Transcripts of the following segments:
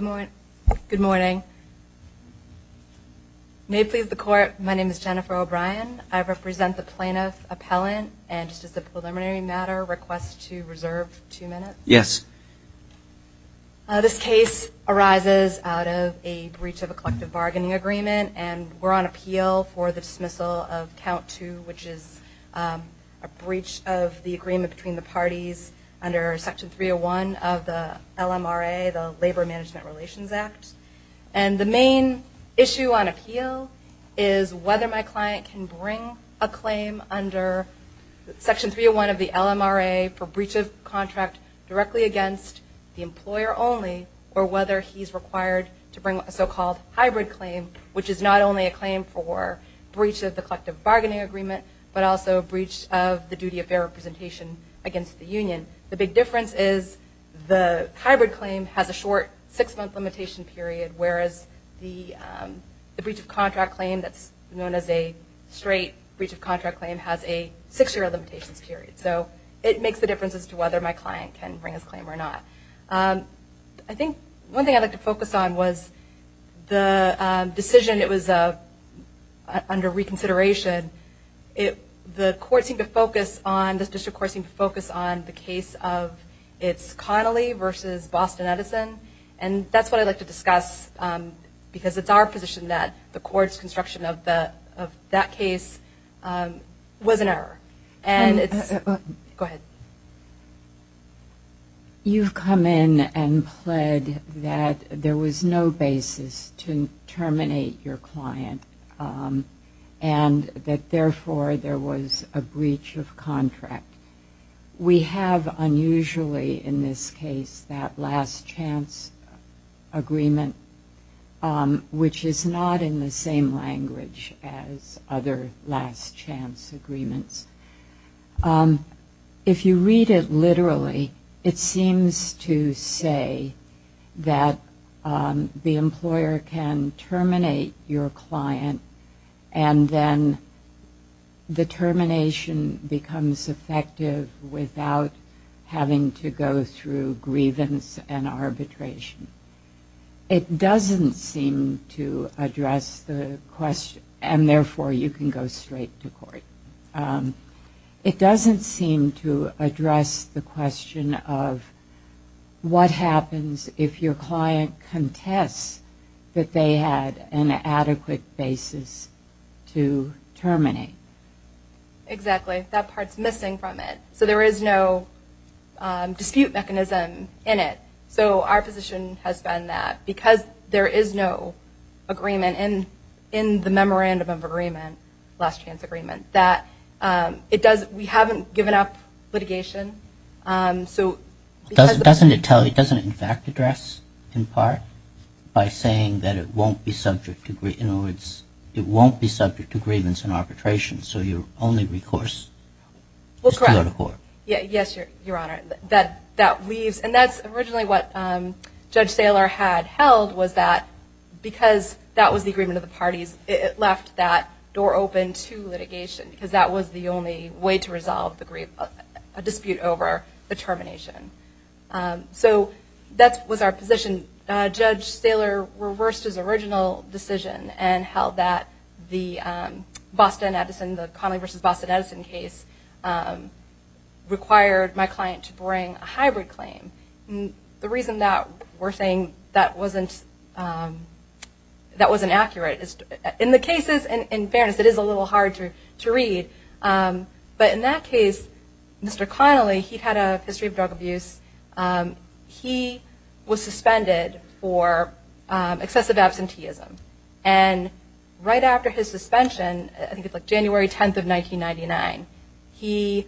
Intro Good morning. May it please the court, my name is Jennifer O'Brien. I represent the plaintiff, appellant, and just as a preliminary matter, request to reserve two minutes. Yes. This case arises out of a breach of a collective bargaining agreement, and we're on appeal for the dismissal of count two, which is a breach of the agreement between the parties under section 301 of the LMRA, the Labor Management Relations Act. And the main issue on appeal is whether my client can bring a claim under section 301 of the LMRA for breach of contract directly against the employer only, or whether he's required to bring a so-called hybrid claim, which is not only a claim for breach of the collective bargaining agreement, but also a breach of the duty of fair representation against the union. The big difference is the hybrid claim has a short six-month limitation period, whereas the breach of contract claim that's known as a straight breach of contract claim has a six-year limitations period. So it makes the difference as to whether my client can bring his claim or not. I think one thing I'd like to focus on was the decision. It was under reconsideration. The court seemed to focus on, the district court seemed to focus on the case of its Connolly versus Boston-Edison, and that's what I'd like to discuss, because it's our position that the court's construction of that case was an error, and it's... Go ahead. You've come in and pled that there was no basis to terminate your client, and that therefore there was a breach of contract. We have, unusually in this case, that last chance agreement, which is not in the same language as other last chance agreements. If you're going to read it literally, it seems to say that the employer can terminate your client, and then the termination becomes effective without having to go through grievance and arbitration. It doesn't seem to address the question, and therefore you can go straight to court. It doesn't seem to address the question of what happens if your client contests that they had an adequate basis to terminate. Exactly. That part's missing from it. There is no dispute mechanism in it. Our position has been that because there is no agreement in the memorandum of agreement, last chance agreements, we haven't given up litigation. Doesn't it in fact address, in part, by saying that it won't be subject to grievance and arbitration, so your only recourse is to go to court? Yes, Your Honor. That leaves... That's originally what Judge Saylor had held, was that because that was the agreement of the parties, it left that door open to litigation, because that was the only way to resolve a dispute over the termination. So that was our position. Judge Saylor reversed his original decision and held that the Boston Edison, the Conley v. Boston Edison case, required my client to bring a hybrid claim. The reason that we're saying that wasn't accurate is, in the cases, in fairness, it is a little hard to read, but in that case, Mr. Conley, he had a history of drug abuse. He was suspended for excessive absenteeism. And right after his suspension, I think it was January 10th of 1999, he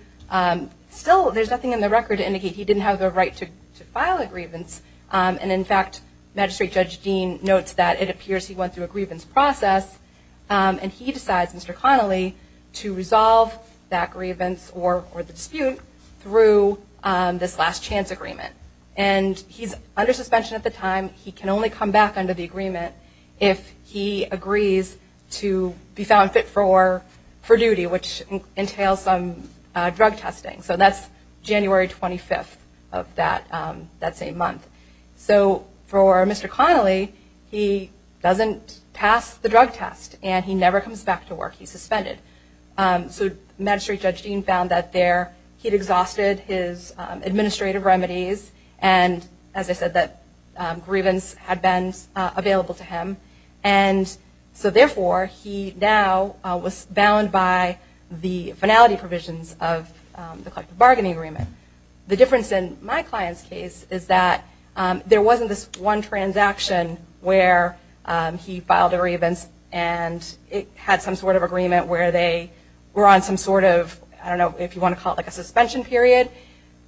still, there's nothing in the record to indicate he didn't have the right to file a grievance. And in fact, Magistrate Judge Dean notes that it appears he went through a grievance process, and he decides, Mr. Conley, to resolve that grievance or the dispute through this last chance agreement. And he's under suspension at the time. He can only come back under the agreement if he agrees to be found fit for duty, which entails some drug testing. So that's January 25th of that same month. So for Mr. Conley, he doesn't pass the drug test, and he never comes back to work. He's suspended. So Magistrate Judge Dean found that there, he'd exhausted his administrative remedies, and as I said, that grievance had been available to him. And so therefore, he now was bound by the finality provisions of the collective bargaining agreement. The difference in my client's case is that there wasn't this one transaction where he filed a grievance, and it had some sort of agreement where they were on some sort of, I don't know if you want to call it like a suspension period.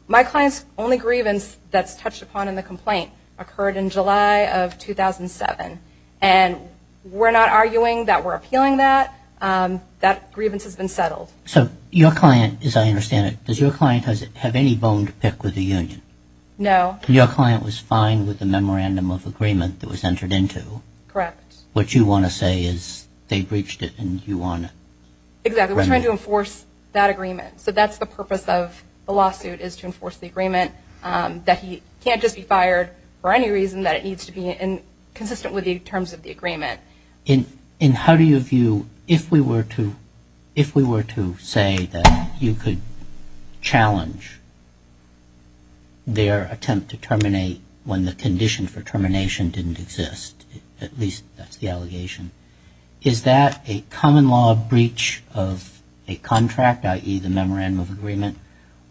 My client's only grievance that's touched upon in the complaint occurred in July of 2007. And we're not arguing that we're appealing that. That grievance has been settled. So your client, as I understand it, does your client have any bone to pick with the union? No. And your client was fine with the memorandum of agreement that was entered into? Correct. What you want to say is they breached it, and you want to remedy it? Exactly. We're trying to enforce that agreement. So that's the purpose of the lawsuit is to enforce the agreement that he can't just be fired for any reason, that it needs to be consistent with the terms of the agreement. In how do you view, if we were to say that you could challenge their attempt to terminate when the condition for termination didn't exist, at least that's the allegation, is that a common law breach of a contract, i.e. the memorandum of agreement?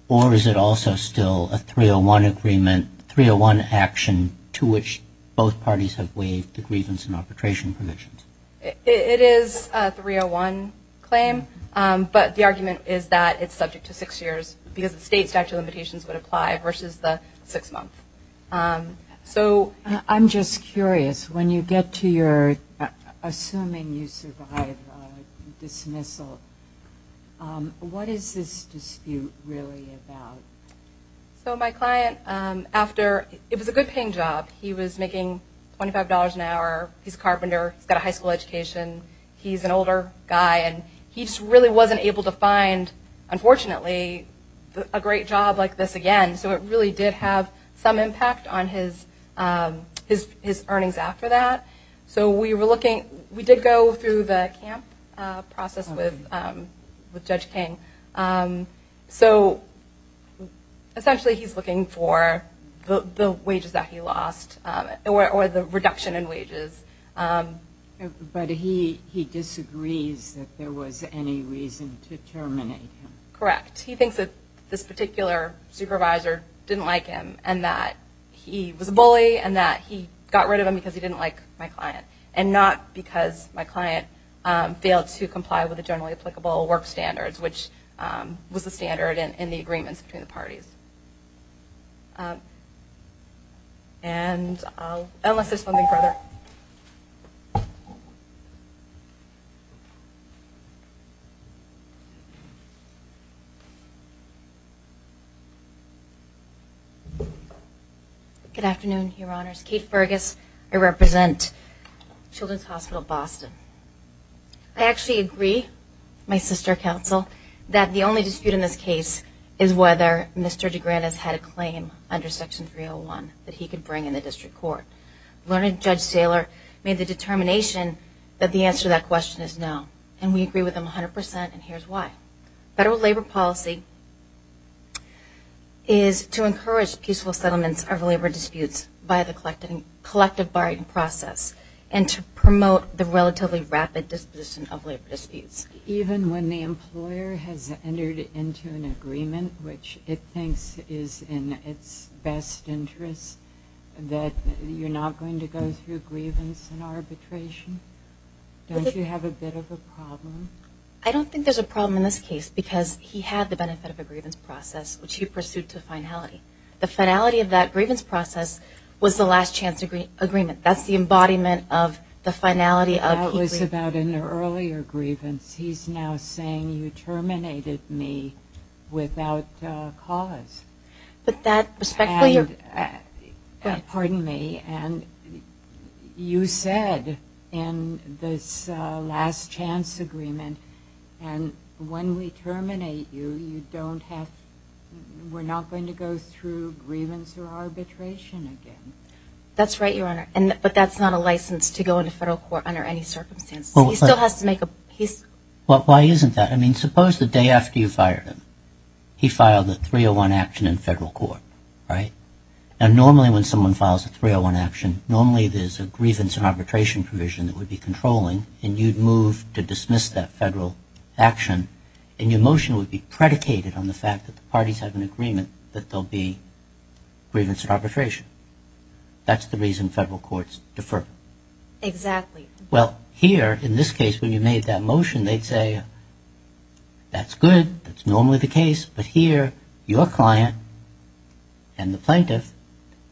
Or is it also still a 301 agreement, 301 action to which both parties have waived the grievance and terminations? It is a 301 claim, but the argument is that it's subject to six years because the state statute of limitations would apply versus the six month. So I'm just curious, when you get to your assuming you survive dismissal, what is this dispute really about? So my client, after, it was a good paying job. He was making $25 an hour, he's a carpenter, he's got a high school education, he's an older guy, and he just really wasn't able to find, unfortunately, a great job like this again. So it really did have some impact on his earnings after that. So we were looking, we did go through the camp process with Judge King. So essentially he's looking for the wages that he lost, or the reduction in wages. But he disagrees that there was any reason to terminate him? Correct. He thinks that this particular supervisor didn't like him and that he was a bully and that he got rid of him because he didn't like my client. And not because my client failed to comply with the generally applicable work standards, which was the standard in the agreements between the parties. And I'll, unless there's something further. Good afternoon, Your Honors. Kate Fergus, I represent Children's Hospital Boston. I actually agree, my sister counsel, that the only dispute in this case is whether Mr. DeGranis had a claim under Section 301 that he could bring in the district court. Learned Judge Saylor made the determination that the answer to that question is no. And we agree with him 100% and here's why. Federal labor policy is to encourage peaceful settlements of labor disputes by the collective bargaining process and to promote the relatively rapid disposition of labor disputes. Even when the employer has entered into an agreement, which it thinks is in its best interest, that you're not going to go through grievance and arbitration? Don't you have a bit of a problem? I don't think there's a problem in this case because he had the benefit of a grievance process, which he pursued to finality. The finality of that grievance process was the last chance agreement. That's the embodiment of the finality of their earlier grievance. He's now saying, you terminated me without cause. But that respectfully, pardon me, and you said in this last chance agreement, and when we terminate you, you don't have, we're not going to go through grievance or arbitration again. That's right, Your Honor, but that's not a license to go into federal court under any circumstances. He still has to make a peace. Well, why isn't that? I mean, suppose the day after you fired him, he filed a 301 action in federal court, right? And normally when someone files a 301 action, normally there's a grievance and arbitration provision that would be controlling, and you'd move to dismiss that federal action, and your motion would be predicated on the fact that the parties have an agreement that there'll be grievance and arbitration. That's the reason federal courts defer. Exactly. Well, here, in this case, when you made that motion, they'd say, that's good, that's normally the case, but here, your client and the plaintiff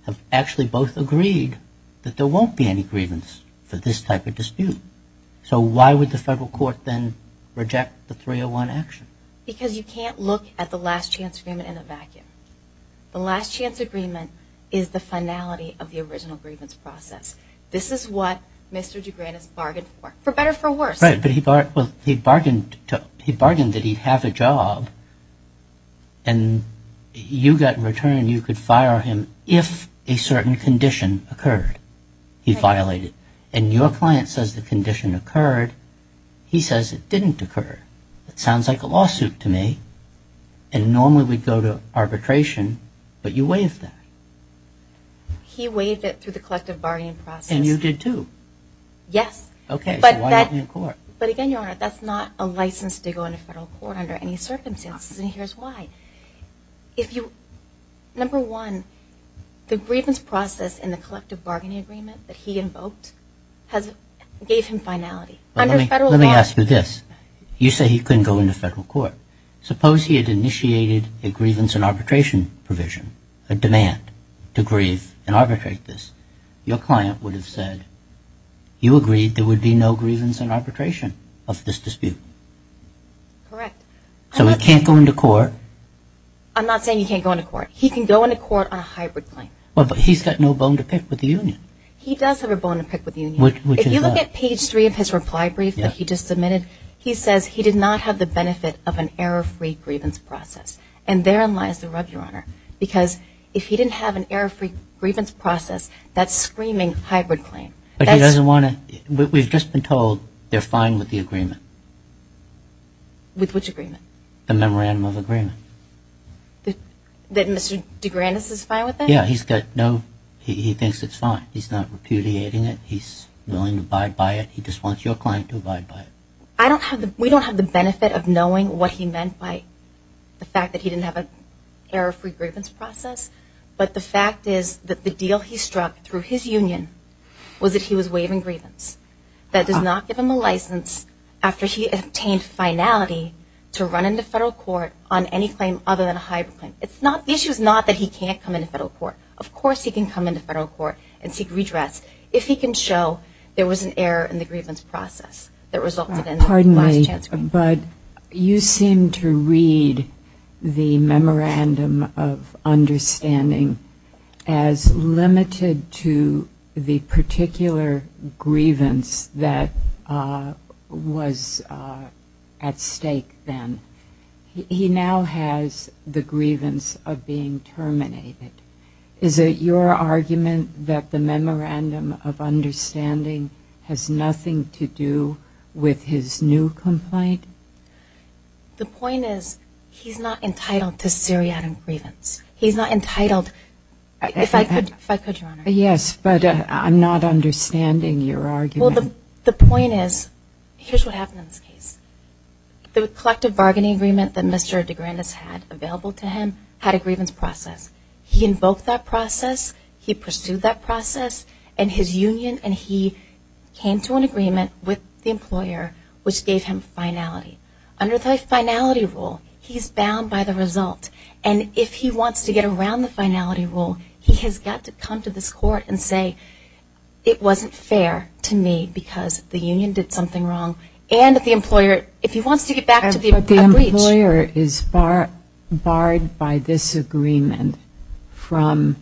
have actually both agreed that there won't be any grievance for this type of dispute. So why would the federal court then reject the 301 action? Because you can't look at the last chance agreement in a vacuum. The last chance agreement is the finality of the original grievance process. This is what Mr. DeGranis bargained for, for better or for worse. Right, but he bargained that he'd have a job, and you got in return, you could fire him if a certain condition occurred. He violated. And your client says the condition occurred, he says it didn't occur. It sounds like a lawsuit to me, and normally we'd go to arbitration, but you waived that. He waived it through the collective bargaining process. And you did too. Yes. Okay, so why not in court? But again, Your Honor, that's not a license to go into federal court under any circumstances, and here's why. Number one, the grievance process in the collective bargaining agreement that he invoked gave him finality. Let me ask you this. You say he couldn't go into federal court. Suppose he had initiated a grievance and arbitration provision, a demand to grieve and arbitrate this. Your client would have said, you agreed there would be no grievance and arbitration of this dispute. Correct. So he can't go into court. I'm not saying he can't go into court. He can go into court on a hybrid claim. Well, but he's got no bone to pick with the union. He does have a bone to pick with the union. Which is what? If you look at page three of his reply brief that he just submitted, he says he did not have the benefit of an error-free grievance process, and therein lies the rub, Your Honor, because if he didn't have an error-free grievance process, that's screaming hybrid claim. But he doesn't want to, we've just been told they're fine with the agreement. With which agreement? The memorandum of agreement. That Mr. DeGrandis is fine with it? Yeah, he's got no, he thinks it's fine. He's not repudiating it. He's willing to abide by it. He just wants your client to abide by it. I don't have the, we don't have the benefit of knowing what he meant by the fact that he didn't have an error-free grievance process, but the fact is that the deal he struck through his union was that he was waiving grievance. That does not give him a license after he obtained finality to run into federal court on any claim other than a hybrid claim. It's not, the issue is not that he can't come into federal court. Of course he can come into federal court and seek redress if he can show there was an error in the grievance process that resulted in the last chance agreement. Pardon me, but you seem to read the memorandum of understanding as limited to the particular grievance that was at stake then. He now has the grievance of being terminated. Is it your view that he's not entitled to seriatim grievance? The point is, he's not entitled to seriatim grievance. He's not entitled, if I could, if I could, Your Honor. Yes, but I'm not understanding your argument. The point is, here's what happened in this case. The collective bargaining agreement that Mr. DeGrandis had available to him had a grievance process. He invoked that process, he pursued that process, and his union, and he came to an agreement with the employer which gave him finality. Under the finality rule, he's bound by the result. And if he wants to get around the finality rule, he has got to come to this court and say, it wasn't fair to me because the union did something wrong. And if the employer, if he wants to get back to the breach. The employer is barred by this agreement from,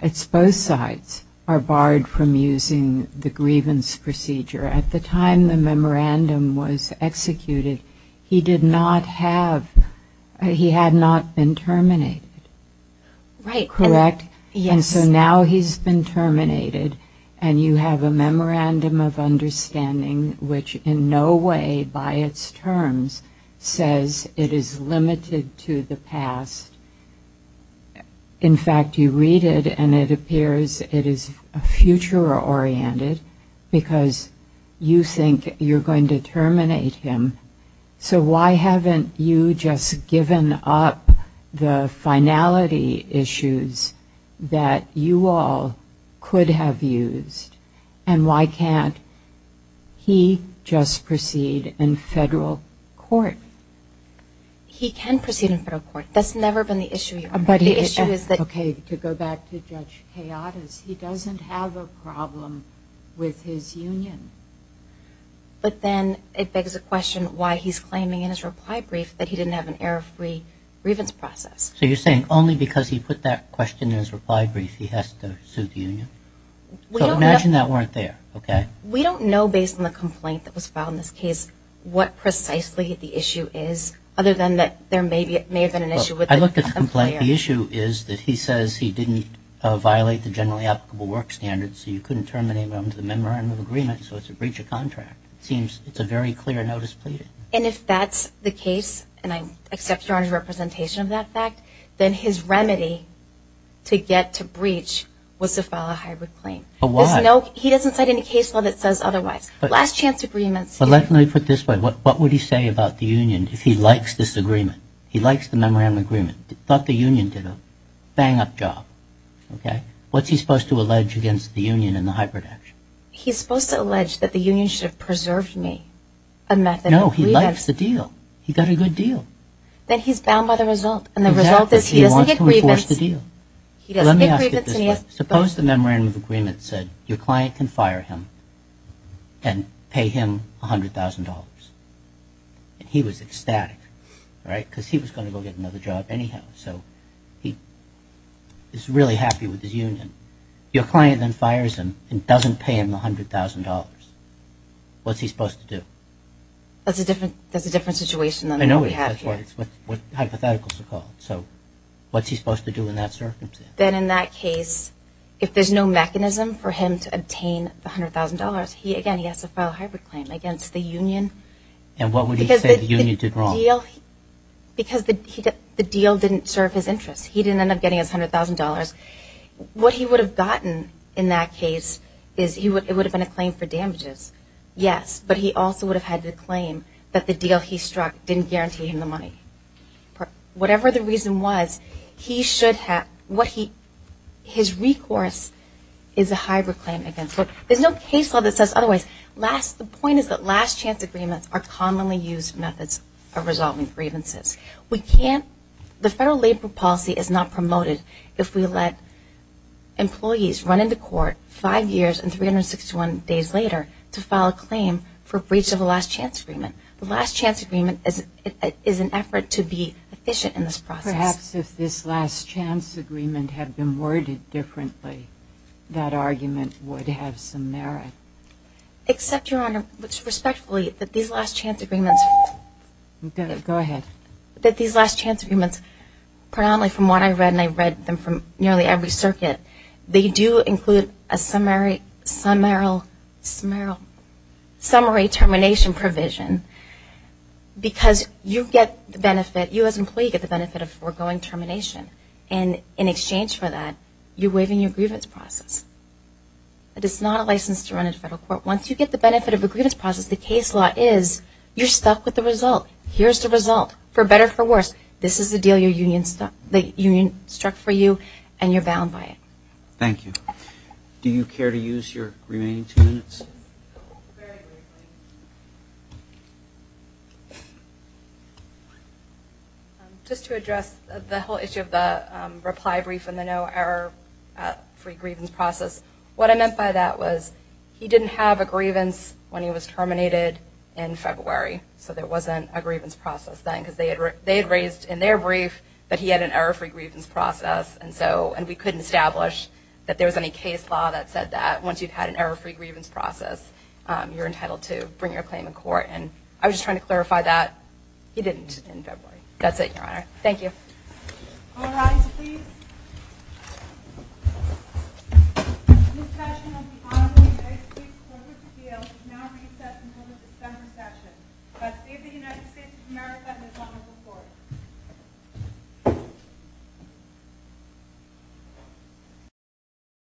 it's both sides, are barred from using the grievance procedure. At the time the memorandum was executed, he did not have, he had not been terminated. Right. Correct? Yes. And so now he's been terminated, and you have a memorandum of understanding which in no way, by its terms, says it is limited to the past. In fact, you read it and it appears it is a future-oriented because you think you're going to terminate him. So why haven't you just given up the finality issues that you all could have used? And why can't he just proceed in federal court? He can proceed in federal court. That's never been the issue here. But the issue is that Okay, to go back to Judge Hayata's, he doesn't have a problem with his union. But then it begs the question why he's claiming in his reply brief that he didn't have an error-free grievance process. So you're saying only because he put that question in his reply brief, he has to sue the union? We don't know So imagine that weren't there, okay? We don't know, based on the complaint that was filed in this case, what precisely the issue is, other than that there may have been an issue with the employer. I looked at the complaint. The issue is that he says he didn't violate the generally applicable work standards, so you couldn't terminate him under the memorandum of agreement, so it's a breacher contract. It seems it's a very clear notice pleading. And if that's the case, and I accept Your Honor's representation of that fact, then his remedy to get to breach was to file a hybrid claim. But why? I know he doesn't cite any case law that says otherwise. Last chance agreements But let me put it this way. What would he say about the union if he likes this agreement? He likes the memorandum of agreement. He thought the union did a bang-up job, okay? What's he supposed to allege against the union and the hybrid action? He's supposed to allege that the union should have preserved me a method of grievance No, he likes the deal. He got a good deal. Then he's bound by the result, and the result is he doesn't get grievance Exactly, he wants to enforce the deal. He doesn't get grievance Suppose the memorandum of agreement said, your client can fire him and pay him $100,000. He was ecstatic, right? Because he was going to go get another job anyhow, so he's really happy with his union. Your client then fires him and doesn't pay him $100,000. What's he supposed to do? That's a different situation than what we have here. I know, that's what hypotheticals are called. So what's he supposed to do in that circumstance? Then in that case, if there's no mechanism for him to obtain the $100,000, he again has to file a hybrid claim against the union. And what would he say the union did wrong? Because the deal didn't serve his interests. He didn't end up getting his $100,000. What he would have gotten in that case is it would have been a claim for damages. Yes, but he also would have had the claim that the deal he struck didn't guarantee him the money. Whatever the reason was, his recourse is a hybrid claim against the union. There's no case law that says otherwise. The point is that last chance agreements are commonly used methods of resolving grievances. The federal labor policy is not promoted if we let employees run into court five years and 361 days later to file a claim for breach of a last chance agreement. The last chance agreement is an effort to be efficient in this process. Perhaps if this last chance agreement had been worded differently, that argument would have some merit. Except, Your Honor, which respectfully, that these last chance agreements, that these last chance agreements, predominantly from what I've read, and I've read them from nearly every circuit, they do include a summary termination provision. Because you get the benefit, you as an employee get the benefit of foregoing termination and in exchange for that, you're waiving your grievance process. It is not a license to run in federal court. Once you get the benefit of a grievance process, the case law is you're stuck with the result. Here's the result, for better or for worse. This is the deal the union struck for you and you're bound by it. Thank you. Do you care to use your remaining two minutes? Very briefly. Just to address the whole issue of the reply brief and the no error free grievance process, what I meant by that was he didn't have a grievance when he was terminated in February. So there wasn't a grievance process then because they had raised in their brief that he had an error free grievance process and we couldn't establish that there was any case law that said that once you've had an error free grievance process, you're entitled to bring your claim in court. I was just trying to clarify that. He didn't in February. That's it, your honor. Thank you. All rise, please. This session of the Honorable United States Court of Appeals is now recessed until the December session. God save the United States of America and his Honorable Court.